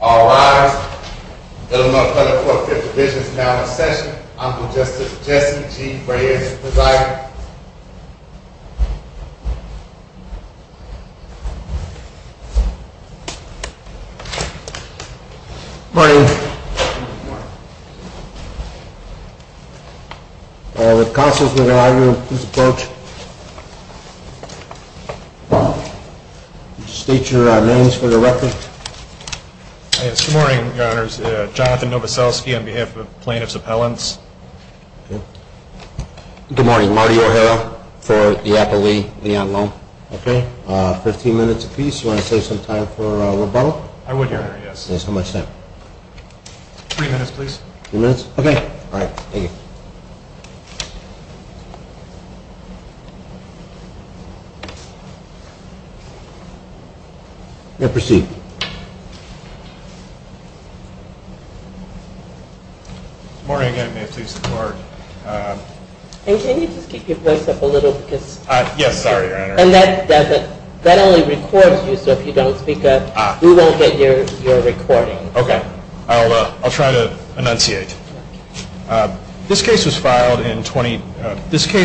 All rise. The Little Mountain Public Court Fifth Division is now in session. Honorable Justice Jesse G. Breyer is the presider. Good morning. Good morning. If counsels would allow you to please approach. State your names for the record. Good morning, your honors. Jonathan Novoselsky on behalf of the plaintiffs' appellants. Good morning. Marty O'Hara for the Appellee Leon Lome. Okay. Fifteen minutes apiece. Do you want to save some time for rebuttal? I would, your honor, yes. How much time? Three minutes, please. Three minutes? Okay. All right. Thank you. You may proceed. Good morning again. May it please the court. Can you just keep your voice up a little? Yes, sorry, your honor. And that only records you, so if you don't speak up, we won't get your recording. Okay. I'll try to enunciate. This case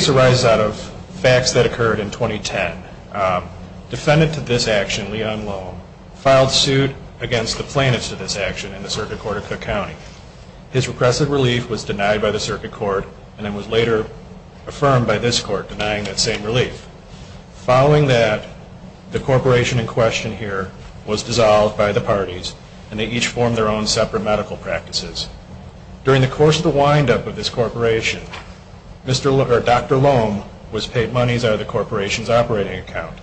arises out of facts that occurred in 2010. Defendant to this action, Leon Lome, filed suit against the plaintiffs to this action in the Circuit Court of Cook County. His repressive relief was denied by the Circuit Court and then was later affirmed by this court denying that same relief. Following that, the corporation in question here was dissolved by the parties, and they each formed their own separate medical practices. During the course of the windup of this corporation, Dr. Lome was paid monies out of the corporation's operating account.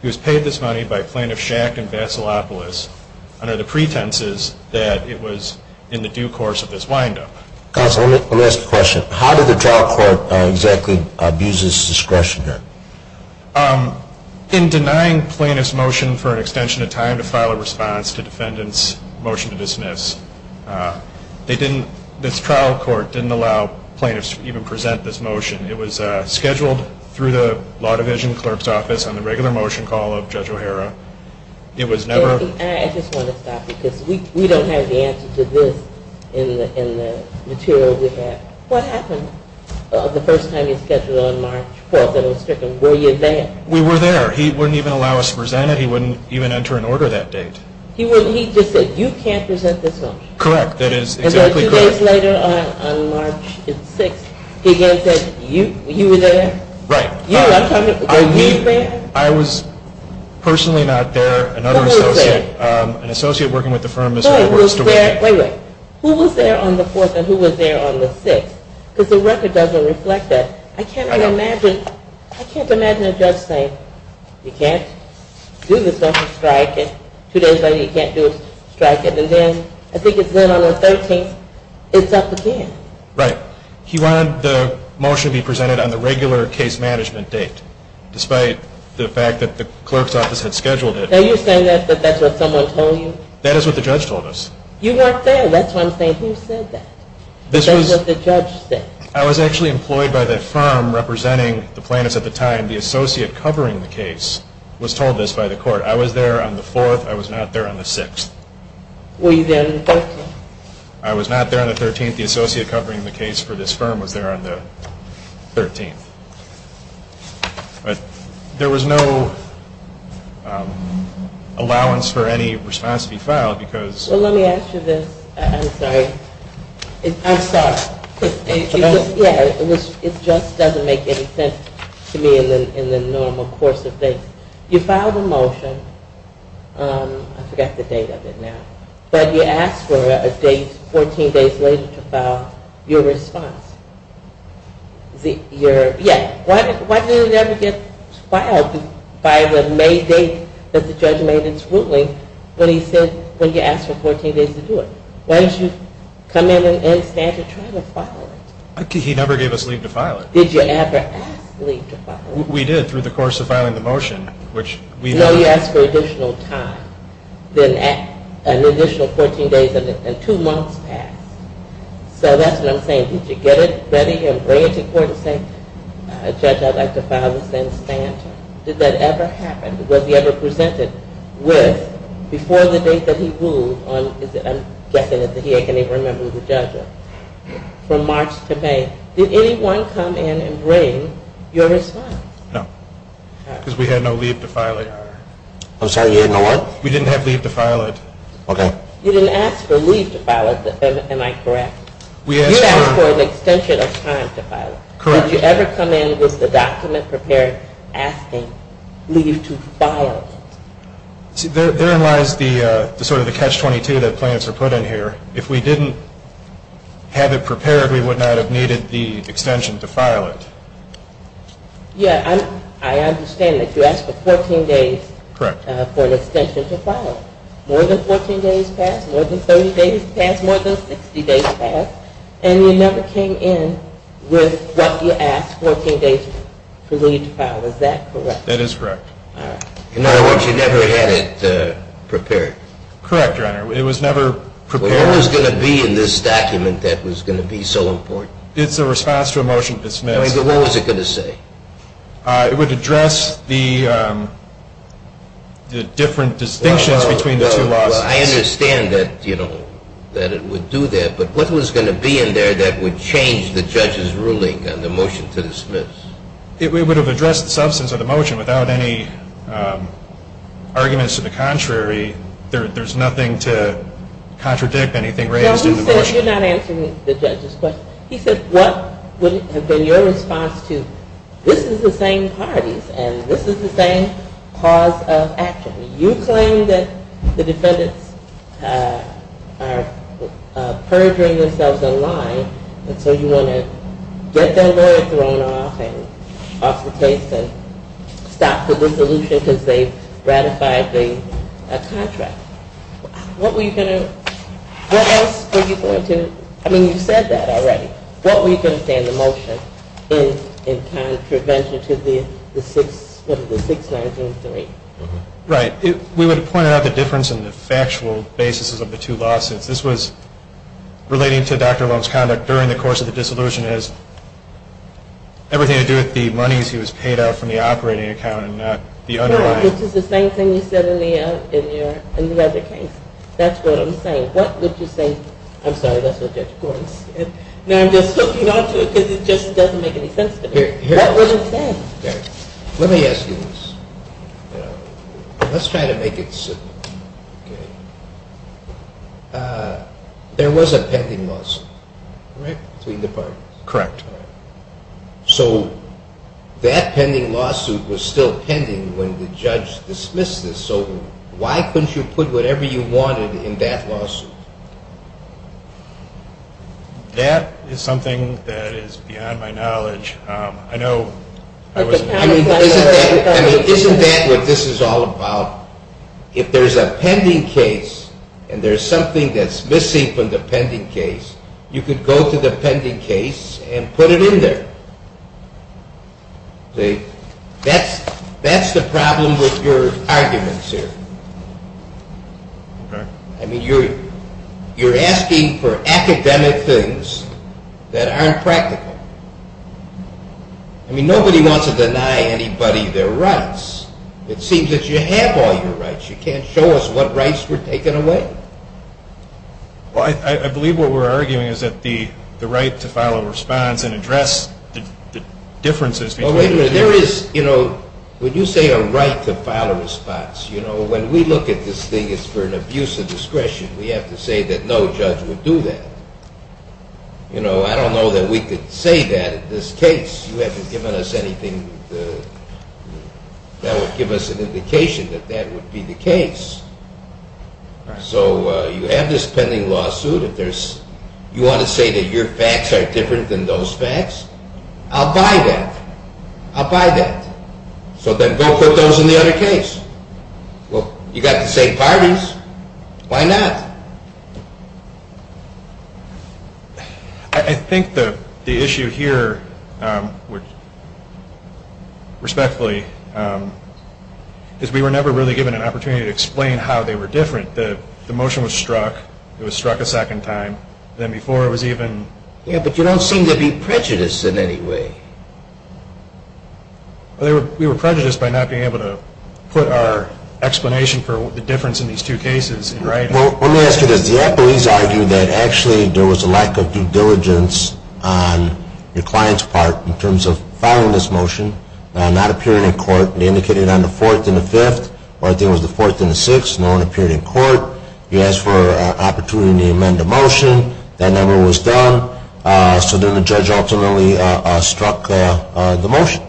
He was paid this money by plaintiffs Schacht and Vasilopoulos under the pretenses that it was in the due course of this windup. Counsel, let me ask a question. How did the trial court exactly abuse this discretion here? In denying plaintiffs' motion for an extension of time to file a response to defendant's motion to dismiss, this trial court didn't allow plaintiffs to even present this motion. It was scheduled through the Law Division clerk's office on the regular motion call of Judge O'Hara. It was never- I just want to stop because we don't have the answer to this in the material we have. What happened the first time you scheduled on March 4th that it was stricken? Were you there? We were there. He wouldn't even allow us to present it. He wouldn't even enter an order that date. He just said, you can't present this motion. Correct. That is exactly correct. Two days later on March 6th, he again said, you were there? Right. You. Were you there? I was personally not there. What was there? Another associate, an associate working with the firm, Mr. Edwards. What was there? Wait, wait. Who was there on the 4th and who was there on the 6th? Because the record doesn't reflect that. I know. I can't even imagine. I can't imagine a judge saying, you can't do this on a strike. And two days later, you can't do a strike. And then, I think it's then on the 13th, it's up again. Right. He wanted the motion to be presented on the regular case management date, despite the fact that the clerk's office had scheduled it. Are you saying that that's what someone told you? That is what the judge told us. You weren't there. That's what I'm saying. Who said that? That's what the judge said. I was actually employed by the firm representing the plaintiffs at the time. The associate covering the case was told this by the court. I was there on the 4th. I was not there on the 6th. Were you there on the 13th? I was not there on the 13th. The associate covering the case for this firm was there on the 13th. But there was no allowance for any response to be filed because of the – Well, let me ask you this. I'm sorry. I'm sorry. It just doesn't make any sense to me in the normal course of things. You filed a motion. I forgot the date of it now. But you asked for a date 14 days later to file your response. Why did it never get filed by the May date that the judge made its ruling when you asked for 14 days to do it? Why didn't you come in and stand to try to file it? He never gave us leave to file it. Did you ever ask leave to file it? We did through the course of filing the motion, which we – No, you asked for additional time. Then an additional 14 days and two months passed. So that's what I'm saying. Did you get it ready and bring it to court and say, Judge, I'd like to file this and stand to it? Did that ever happen? Was he ever presented with, before the date that he ruled on – I'm guessing that he can't even remember who the judge was – from March to May. Did anyone come in and bring your response? No, because we had no leave to file it. I'm sorry, you had no what? We didn't have leave to file it. Okay. You didn't ask for leave to file it, am I correct? You asked for an extension of time to file it. Correct. Did you ever come in with the document prepared asking leave to file it? See, therein lies sort of the catch-22 that plans are put in here. If we didn't have it prepared, we would not have needed the extension to file it. Yeah, I understand that you asked for 14 days for an extension to file. More than 14 days passed, more than 30 days passed, more than 60 days passed, and you never came in with what you asked, 14 days for leave to file. Is that correct? That is correct. In other words, you never had it prepared. Correct, Your Honor. What was going to be in this document that was going to be so important? It's a response to a motion to dismiss. What was it going to say? It would address the different distinctions between the two lawsuits. I understand that it would do that, but what was going to be in there that would change the judge's ruling on the motion to dismiss? It would have addressed the substance of the motion without any arguments to the contrary. There's nothing to contradict anything raised in the motion. You're not answering the judge's question. He said what would have been your response to this is the same parties and this is the same cause of action. You claim that the defendants are perjuring themselves and lying, and so you want to get their lawyer thrown off and off the case and stop the dissolution because they ratified the contract. What else were you going to do? I mean, you said that already. What were you going to say in the motion in contravention to the 6903? Right. We would have pointed out the difference in the factual basis of the two lawsuits. This was relating to Dr. Long's conduct during the course of the dissolution. The motion has everything to do with the monies he was paid out from the operating account and not the underlying. No, which is the same thing you said in the other case. That's what I'm saying. What would you say? I'm sorry, that's what Judge Gordon said. Now I'm just hooking onto it because it just doesn't make any sense to me. What would you say? Let me ask you this. Let's try to make it simple. Okay. There was a pending lawsuit between the parties. Correct. So that pending lawsuit was still pending when the judge dismissed this. So why couldn't you put whatever you wanted in that lawsuit? That is something that is beyond my knowledge. Isn't that what this is all about? If there is a pending case and there is something that is missing from the pending case, you could go to the pending case and put it in there. That's the problem with your arguments here. I mean, you're asking for academic things that aren't practical. I mean, nobody wants to deny anybody their rights. It seems that you have all your rights. You can't show us what rights were taken away. I believe what we're arguing is that the right to file a response and address the differences between the two. When you say a right to file a response, when we look at this thing as for an abuse of discretion, we have to say that no judge would do that. I don't know that we could say that in this case. You haven't given us anything that would give us an indication that that would be the case. So you have this pending lawsuit. If you want to say that your facts are different than those facts, I'll buy that. I'll buy that. So then go put those in the other case. Well, you've got the same parties. Why not? I think the issue here, respectfully, is we were never really given an opportunity to explain how they were different. The motion was struck. It was struck a second time. Then before it was even... Yeah, but you don't seem to be prejudiced in any way. I think we were prejudiced by not being able to put our explanation for the difference in these two cases in writing. Well, let me ask you this. The employees argued that actually there was a lack of due diligence on the client's part in terms of filing this motion, not appearing in court. They indicated on the 4th and the 5th, or I think it was the 4th and the 6th, no one appeared in court. He asked for an opportunity to amend the motion. That never was done. So then the judge ultimately struck the motion.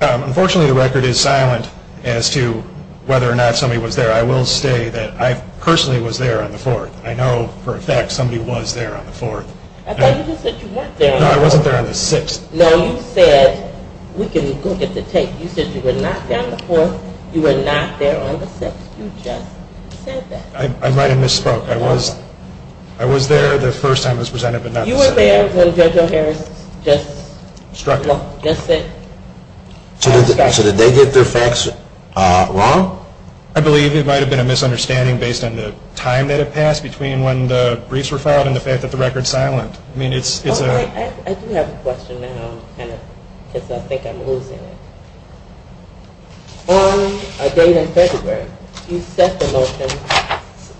Unfortunately, the record is silent as to whether or not somebody was there. I will say that I personally was there on the 4th. I know for a fact somebody was there on the 4th. I thought you just said you weren't there on the 4th. No, I wasn't there on the 6th. No, you said, we can look at the tape, you said you were not there on the 4th, you were not there on the 6th. You just said that. I might have misspoke. I was there the first time it was presented, but not the second time. You were there when Judge O'Hara just struck it. Just said. So did they get their facts wrong? I believe it might have been a misunderstanding based on the time that it passed between when the briefs were filed and the fact that the record is silent. I mean, it's a. I do have a question now because I think I'm losing it. On a date in February, you set the motion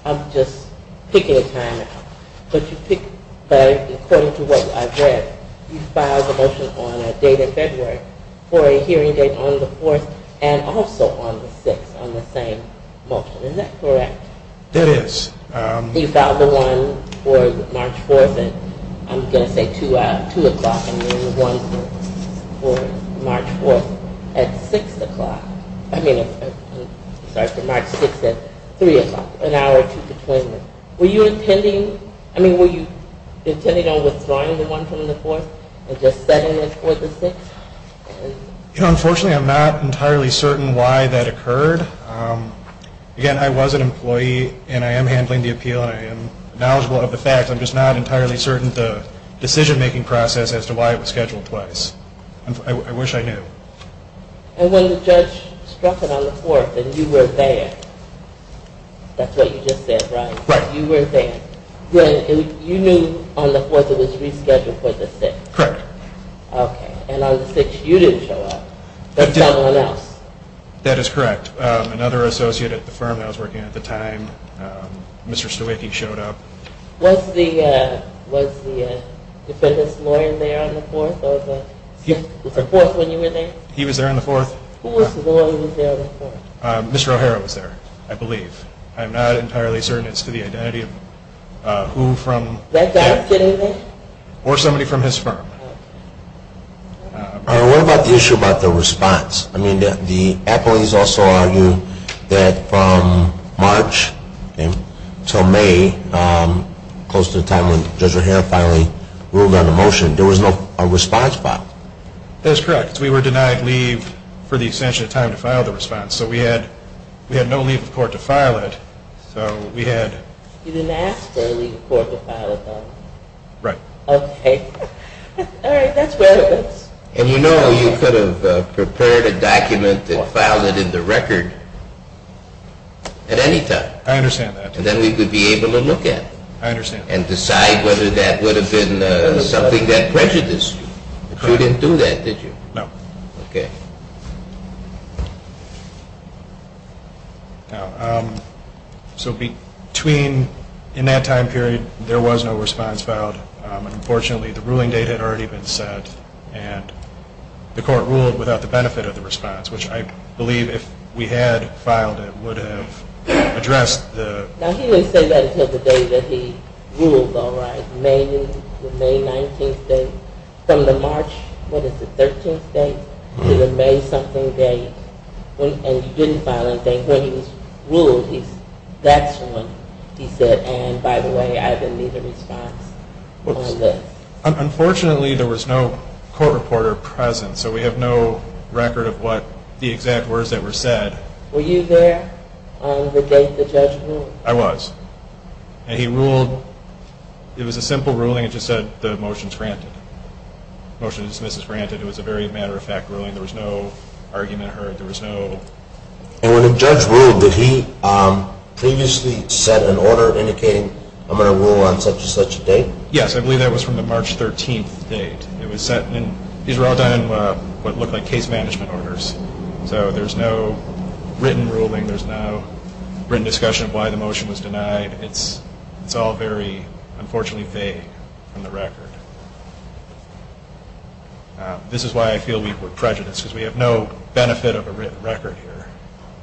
of just picking a time out, but according to what I've read, you filed the motion on a date in February for a hearing date on the 4th and also on the 6th on the same motion. Is that correct? It is. You filed the one for March 4th at, I'm going to say 2 o'clock, and then the one for March 4th at 6 o'clock. I mean, sorry, for March 6th at 3 o'clock, an hour or two between them. Were you intending, I mean, were you intending on withdrawing the one from the 4th and just setting it for the 6th? Unfortunately, I'm not entirely certain why that occurred. Again, I was an employee and I am handling the appeal and I am knowledgeable of the facts. I'm just not entirely certain of the decision-making process as to why it was scheduled twice. I wish I knew. And when the judge struck it on the 4th and you were there, that's what you just said, right? Right. You were there. You knew on the 4th it was rescheduled for the 6th? Correct. Okay. And on the 6th you didn't show up, but someone else? That is correct. Another associate at the firm I was working at the time, Mr. Stowiecki, showed up. Was the defendant's lawyer there on the 4th or the 6th? The 4th when you were there? He was there on the 4th. Who was the lawyer who was there on the 4th? Mr. O'Hara was there, I believe. I'm not entirely certain as to the identity of who from the firm. Did that guy get in there? Or somebody from his firm. What about the issue about the response? The appellees also argue that from March until May, close to the time when Judge O'Hara finally ruled on the motion, there was no response filed. That is correct. We were denied leave for the extension of time to file the response. So we had no leave of court to file it. You didn't ask for a leave of court to file it, though? Right. Okay. All right. That's where it was. And you know you could have prepared a document and filed it in the record at any time. I understand that. And then we would be able to look at it. I understand. And decide whether that would have been something that prejudiced you. But you didn't do that, did you? No. Okay. So between in that time period, there was no response filed. And unfortunately, the ruling date had already been set. And the court ruled without the benefit of the response, which I believe if we had filed it would have addressed the Now he didn't say that until the day that he ruled, all right, May 19th date. From the March, what is it, 13th date to the May something date. And you didn't file anything. When he was ruled, that's when he said, and by the way, I didn't need a response. Unfortunately, there was no court reporter present. So we have no record of what the exact words that were said. Were you there on the date the judge ruled? I was. And he ruled. It was a simple ruling. It just said the motion is granted. Motion to dismiss is granted. It was a very matter-of-fact ruling. There was no argument heard. There was no. And when the judge ruled, did he previously set an order indicating I'm going to rule on such and such a date? Yes, I believe that was from the March 13th date. It was set. These were all done in what looked like case management orders. So there's no written ruling. There's no written discussion of why the motion was denied. It's all very, unfortunately, vague on the record. This is why I feel we were prejudiced, because we have no benefit of a written record here.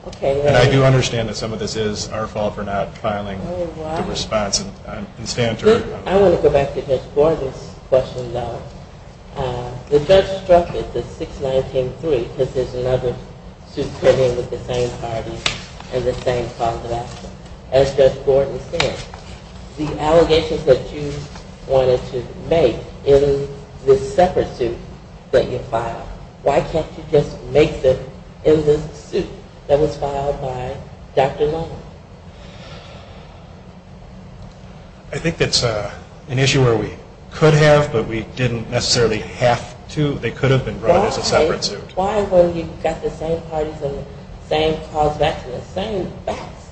Okay. And I do understand that some of this is our fault for not filing the response. Oh, wow. I want to go back to Judge Gordon's question, though. The judge struck it as 6-19-3, because there's another suit coming with the same parties and the same cause of action. As Judge Gordon said, the allegations that you wanted to make in this separate suit that you filed, why can't you just make them in this suit that was filed by Dr. Long? I think that's an issue where we could have, but we didn't necessarily have to. They could have been brought as a separate suit. Why, when you've got the same parties and the same cause of action, the same facts?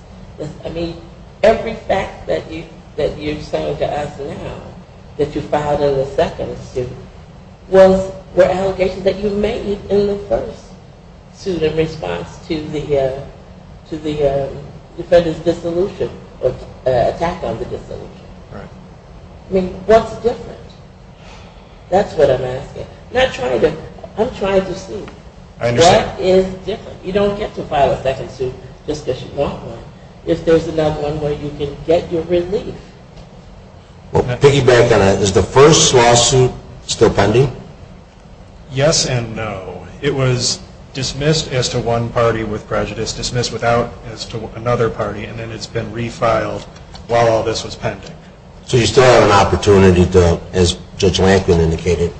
I mean, every fact that you're saying to us now that you filed in the second suit were allegations that you made in the first suit in response to the defendants' attack on the dissolution. Right. I mean, what's different? That's what I'm asking. I'm trying to see. I understand. That is different. You don't get to file a second suit just because you want one. If there's another one where you can get your relief. Well, piggybacking on that, is the first lawsuit still pending? Yes and no. It was dismissed as to one party with prejudice, dismissed without as to another party, and then it's been refiled while all this was pending. So you still have an opportunity to, as Judge Lankman indicated,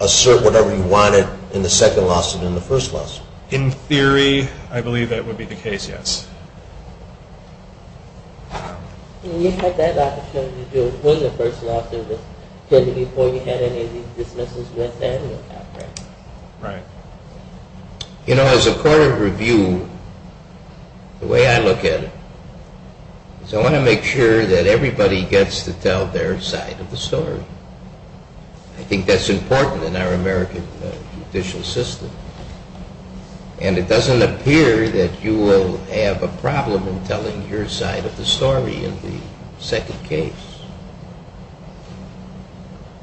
assert whatever you wanted in the second lawsuit and the first lawsuit? In theory, I believe that would be the case, yes. You had that opportunity to do it when the first lawsuit was pending before you had any of these dismissals with Samuel Patrick. Right. You know, as a court of review, the way I look at it, is I want to make sure that everybody gets to tell their side of the story. I think that's important in our American judicial system. And it doesn't appear that you will have a problem in telling your side of the story in the second case.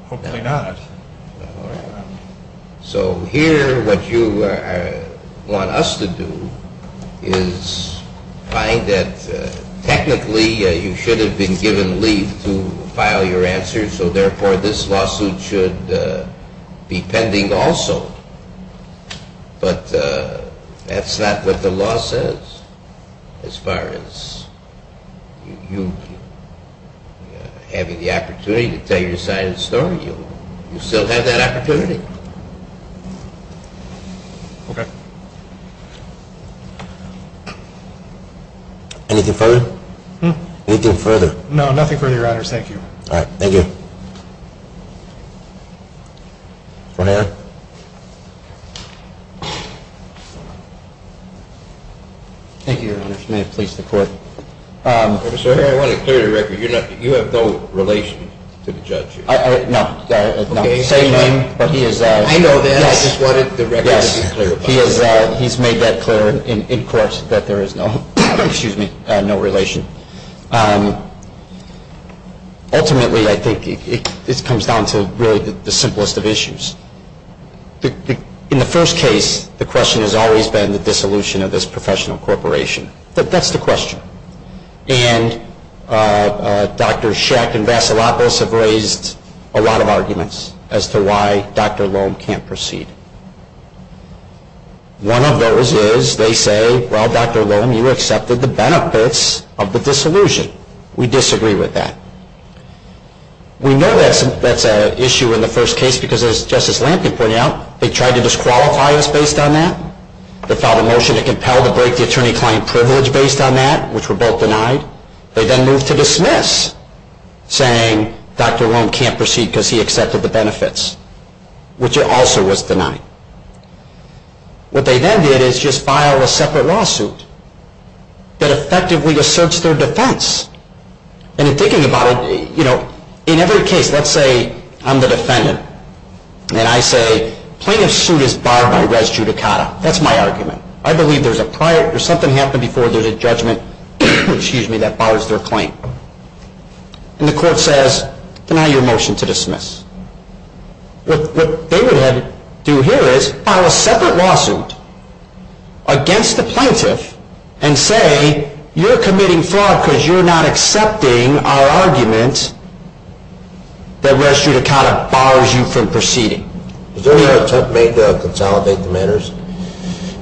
Hopefully not. So here what you want us to do is find that technically you should have been given leave to file your answer, so therefore this lawsuit should be pending also. But that's not what the law says as far as you having the opportunity to tell your side of the story. You still have that opportunity. Okay. Anything further? No, nothing further, Your Honors. Thank you. All right. Thank you. Ronan? Thank you, Your Honors. May it please the Court. I want to clear the record. You have no relation to the judge here. No. I know that. I just wanted the record to be clear. He's made that clear in court that there is no relation. Ultimately, I think it comes down to really the simplest of issues. In the first case, the question has always been the dissolution of this professional corporation. That's the question. And Dr. Schacht and Vassilopoulos have raised a lot of arguments as to why Dr. Loehm can't proceed. One of those is they say, well, Dr. Loehm, you accepted the benefits of the dissolution. We disagree with that. We know that's an issue in the first case because, as Justice Lampkin pointed out, they tried to disqualify us based on that. They filed a motion to compel to break the attorney-client privilege based on that, which were both denied. They then moved to dismiss, saying Dr. Loehm can't proceed because he accepted the benefits, which also was denied. What they then did is just file a separate lawsuit that effectively asserts their defense. And in thinking about it, you know, in every case, let's say I'm the defendant, and I say plaintiff's suit is barred by res judicata. That's my argument. I believe there's something happened before there's a judgment that bars their claim. And the court says, deny your motion to dismiss. What they would do here is file a separate lawsuit against the plaintiff and say, you're committing fraud because you're not accepting our argument that res judicata bars you from proceeding. Was there an attempt made to consolidate the matters?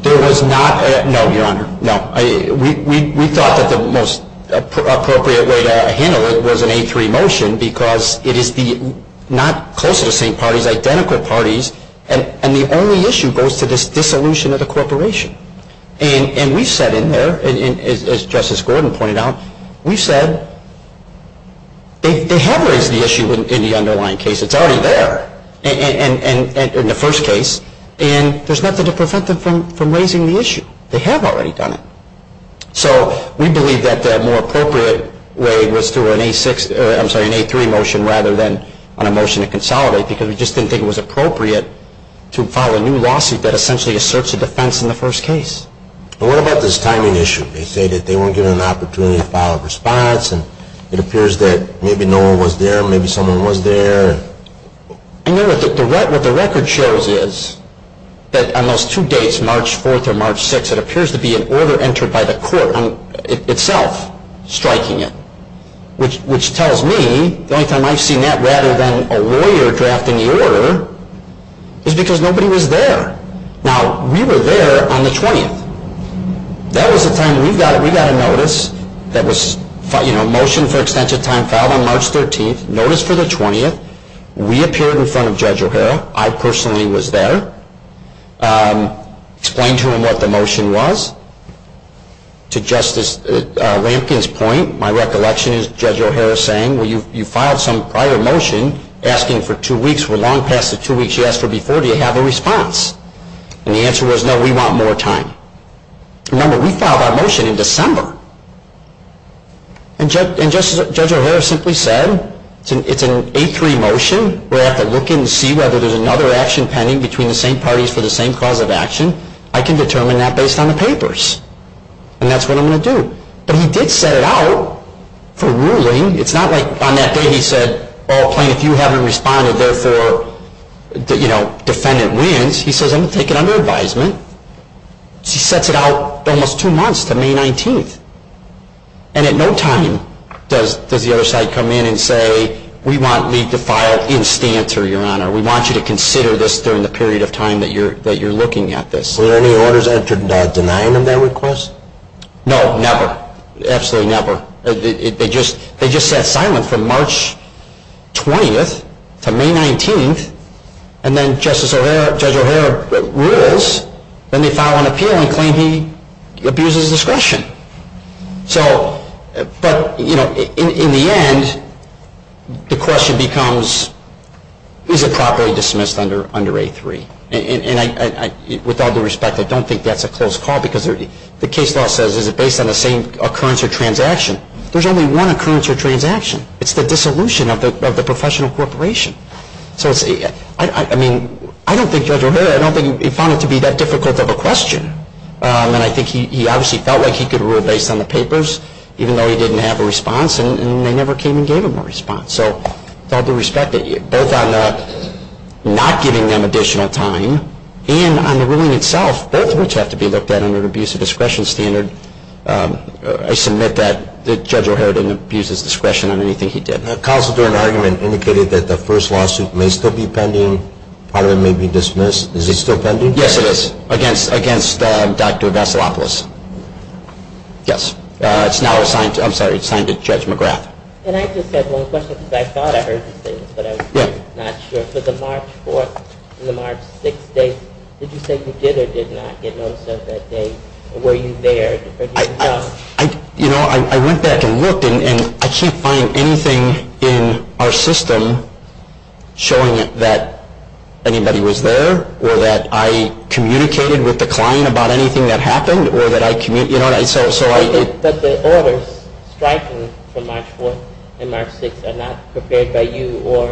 There was not. No, Your Honor. No. We thought that the most appropriate way to handle it was an 8-3 motion because it is not closer to the same parties, identical parties, and the only issue goes to this dissolution of the corporation. And we've said in there, as Justice Gordon pointed out, we've said they have raised the issue in the underlying case. It's already there in the first case, and there's nothing to prevent them from raising the issue. They have already done it. So we believe that the more appropriate way was through an 8-3 motion rather than on a motion to consolidate because we just didn't think it was appropriate to file a new lawsuit that essentially asserts a defense in the first case. And what about this timing issue? They say that they weren't given an opportunity to file a response, and it appears that maybe no one was there, maybe someone was there. I know what the record shows is that on those two dates, March 4th or March 6th, it appears to be an order entered by the court itself striking it, which tells me the only time I've seen that rather than a lawyer drafting the order is because nobody was there. Now, we were there on the 20th. That was the time we got a notice that was a motion for extension of time filed on March 13th. Notice for the 20th. We appeared in front of Judge O'Hara. I personally was there. Explained to him what the motion was. To Justice Lampkin's point, my recollection is Judge O'Hara saying, well, you filed some prior motion asking for two weeks. We're long past the two weeks you asked for before. Do you have a response? And the answer was, no, we want more time. Remember, we filed our motion in December. And Judge O'Hara simply said, it's an 8-3 motion. We're going to have to look and see whether there's another action pending between the same parties for the same cause of action. I can determine that based on the papers. And that's what I'm going to do. But he did set it out for ruling. It's not like on that day he said, oh, if you haven't responded, therefore, defendant wins. He says, I'm going to take it under advisement. He sets it out almost two months to May 19th. And at no time does the other side come in and say, we want you to file in stancer, Your Honor. We want you to consider this during the period of time that you're looking at this. Were any orders entered denying of that request? No, never. Absolutely never. They just sat silent from March 20th to May 19th. And then Judge O'Hara rules. Then they file an appeal and claim he abuses discretion. But in the end, the question becomes, is it properly dismissed under A3? And with all due respect, I don't think that's a close call. Because the case law says, is it based on the same occurrence or transaction? There's only one occurrence or transaction. It's the dissolution of the professional corporation. I don't think Judge O'Hara, I don't think he found it to be that difficult of a question. And I think he obviously felt like he could rule based on the papers, even though he didn't have a response. And they never came and gave him a response. So with all due respect, both on not giving them additional time and on the ruling itself, both of which have to be looked at under an abuse of discretion standard, I submit that Judge O'Hara didn't abuse his discretion on anything he did. The cause of the argument indicated that the first lawsuit may still be pending. Part of it may be dismissed. Is it still pending? Yes, it is. Against Dr. Vasilopoulos? Yes. It's now assigned to Judge McGrath. And I just have one question, because I thought I heard you say this, but I'm not sure. For the March 4th and the March 6th date, did you say you did or did not get notice of that date? Or were you there? You know, I went back and looked, and I can't find anything in our system showing that anybody was there or that I communicated with the client about anything that happened or that I communicated. But the orders striking from March 4th and March 6th are not prepared by you or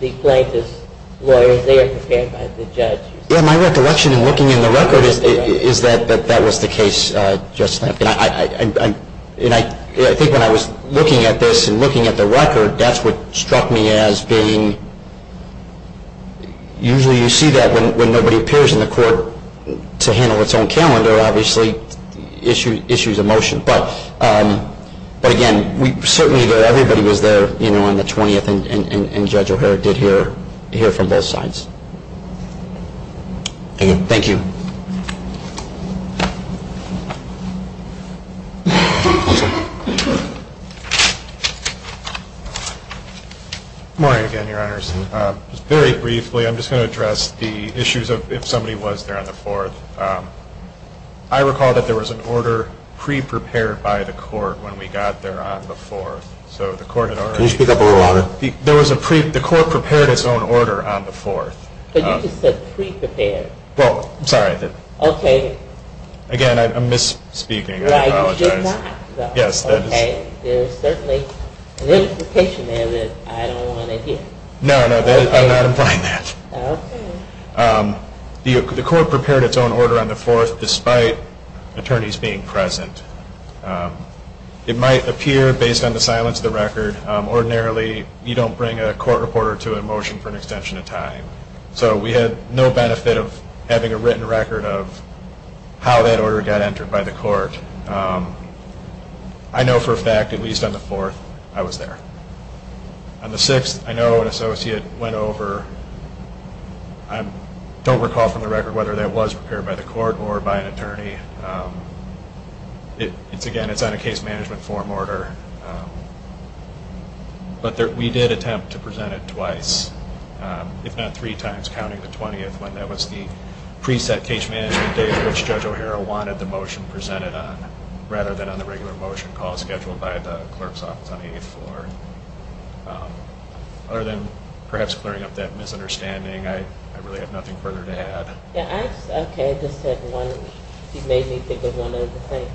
the plaintiff's lawyers. They are prepared by the judge. My recollection in looking in the record is that that was the case, Justice Lampkin. I think when I was looking at this and looking at the record, that's what struck me as being usually you see that when nobody appears in the court to handle its own calendar, obviously issues a motion. But, again, certainly everybody was there on the 20th, and Judge O'Hara did hear from both sides. Thank you. Good morning again, Your Honors. Very briefly, I'm just going to address the issues of if somebody was there on the 4th. I recall that there was an order pre-prepared by the court when we got there on the 4th. So the court had already – Can you speak up a little louder? The court prepared its own order on the 4th. But you just said pre-prepared. Well, I'm sorry. Okay. Again, I'm misspeaking. You should not, though. Yes. Okay. There's certainly an implication there that I don't want to hear. No, no. I'm not implying that. Okay. The court prepared its own order on the 4th despite attorneys being present. It might appear, based on the silence of the record, ordinarily you don't bring a court reporter to a motion for an extension of time. So we had no benefit of having a written record of how that order got entered by the court. I know for a fact, at least on the 4th, I was there. On the 6th, I know an associate went over. I don't recall from the record whether that was prepared by the court or by an attorney. Again, it's on a case management form order. But we did attempt to present it twice, if not three times, counting the 20th when that was the preset case management date which Judge O'Hara wanted the motion presented on, rather than on the regular motion call scheduled by the clerk's office on the 8th floor. Other than perhaps clearing up that misunderstanding, I really have nothing further to add. Okay. I just had one. You made me think of one other thing.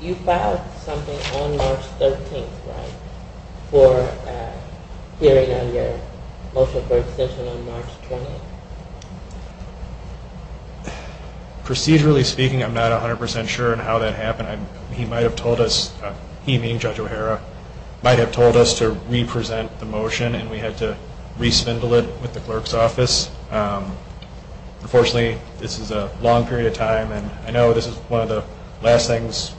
You filed something on March 13th, right? For hearing on your motion for extension on March 20th? Procedurally speaking, I'm not 100% sure on how that happened. He might have told us, he meaning Judge O'Hara, might have told us to re-present the motion and we had to re-spindle it with the clerk's office. Unfortunately, this is a long period of time and I know this is one of the last things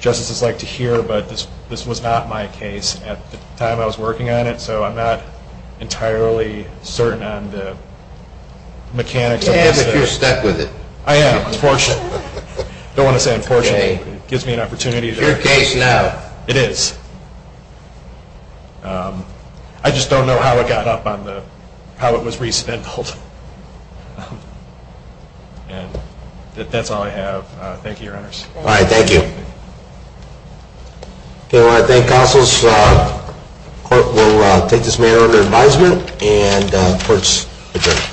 justices like to hear, but this was not my case at the time I was working on it, so I'm not entirely certain on the mechanics of this. You can if you're stuck with it. I am, unfortunately. I don't want to say unfortunately. It gives me an opportunity. It's your case now. It is. I just don't know how it got up on the, how it was re-spindled. And that's all I have. Thank you, Your Honors. All right. Thank you. Okay. I want to thank counsels. The court will take this matter under advisement and the court's adjourned.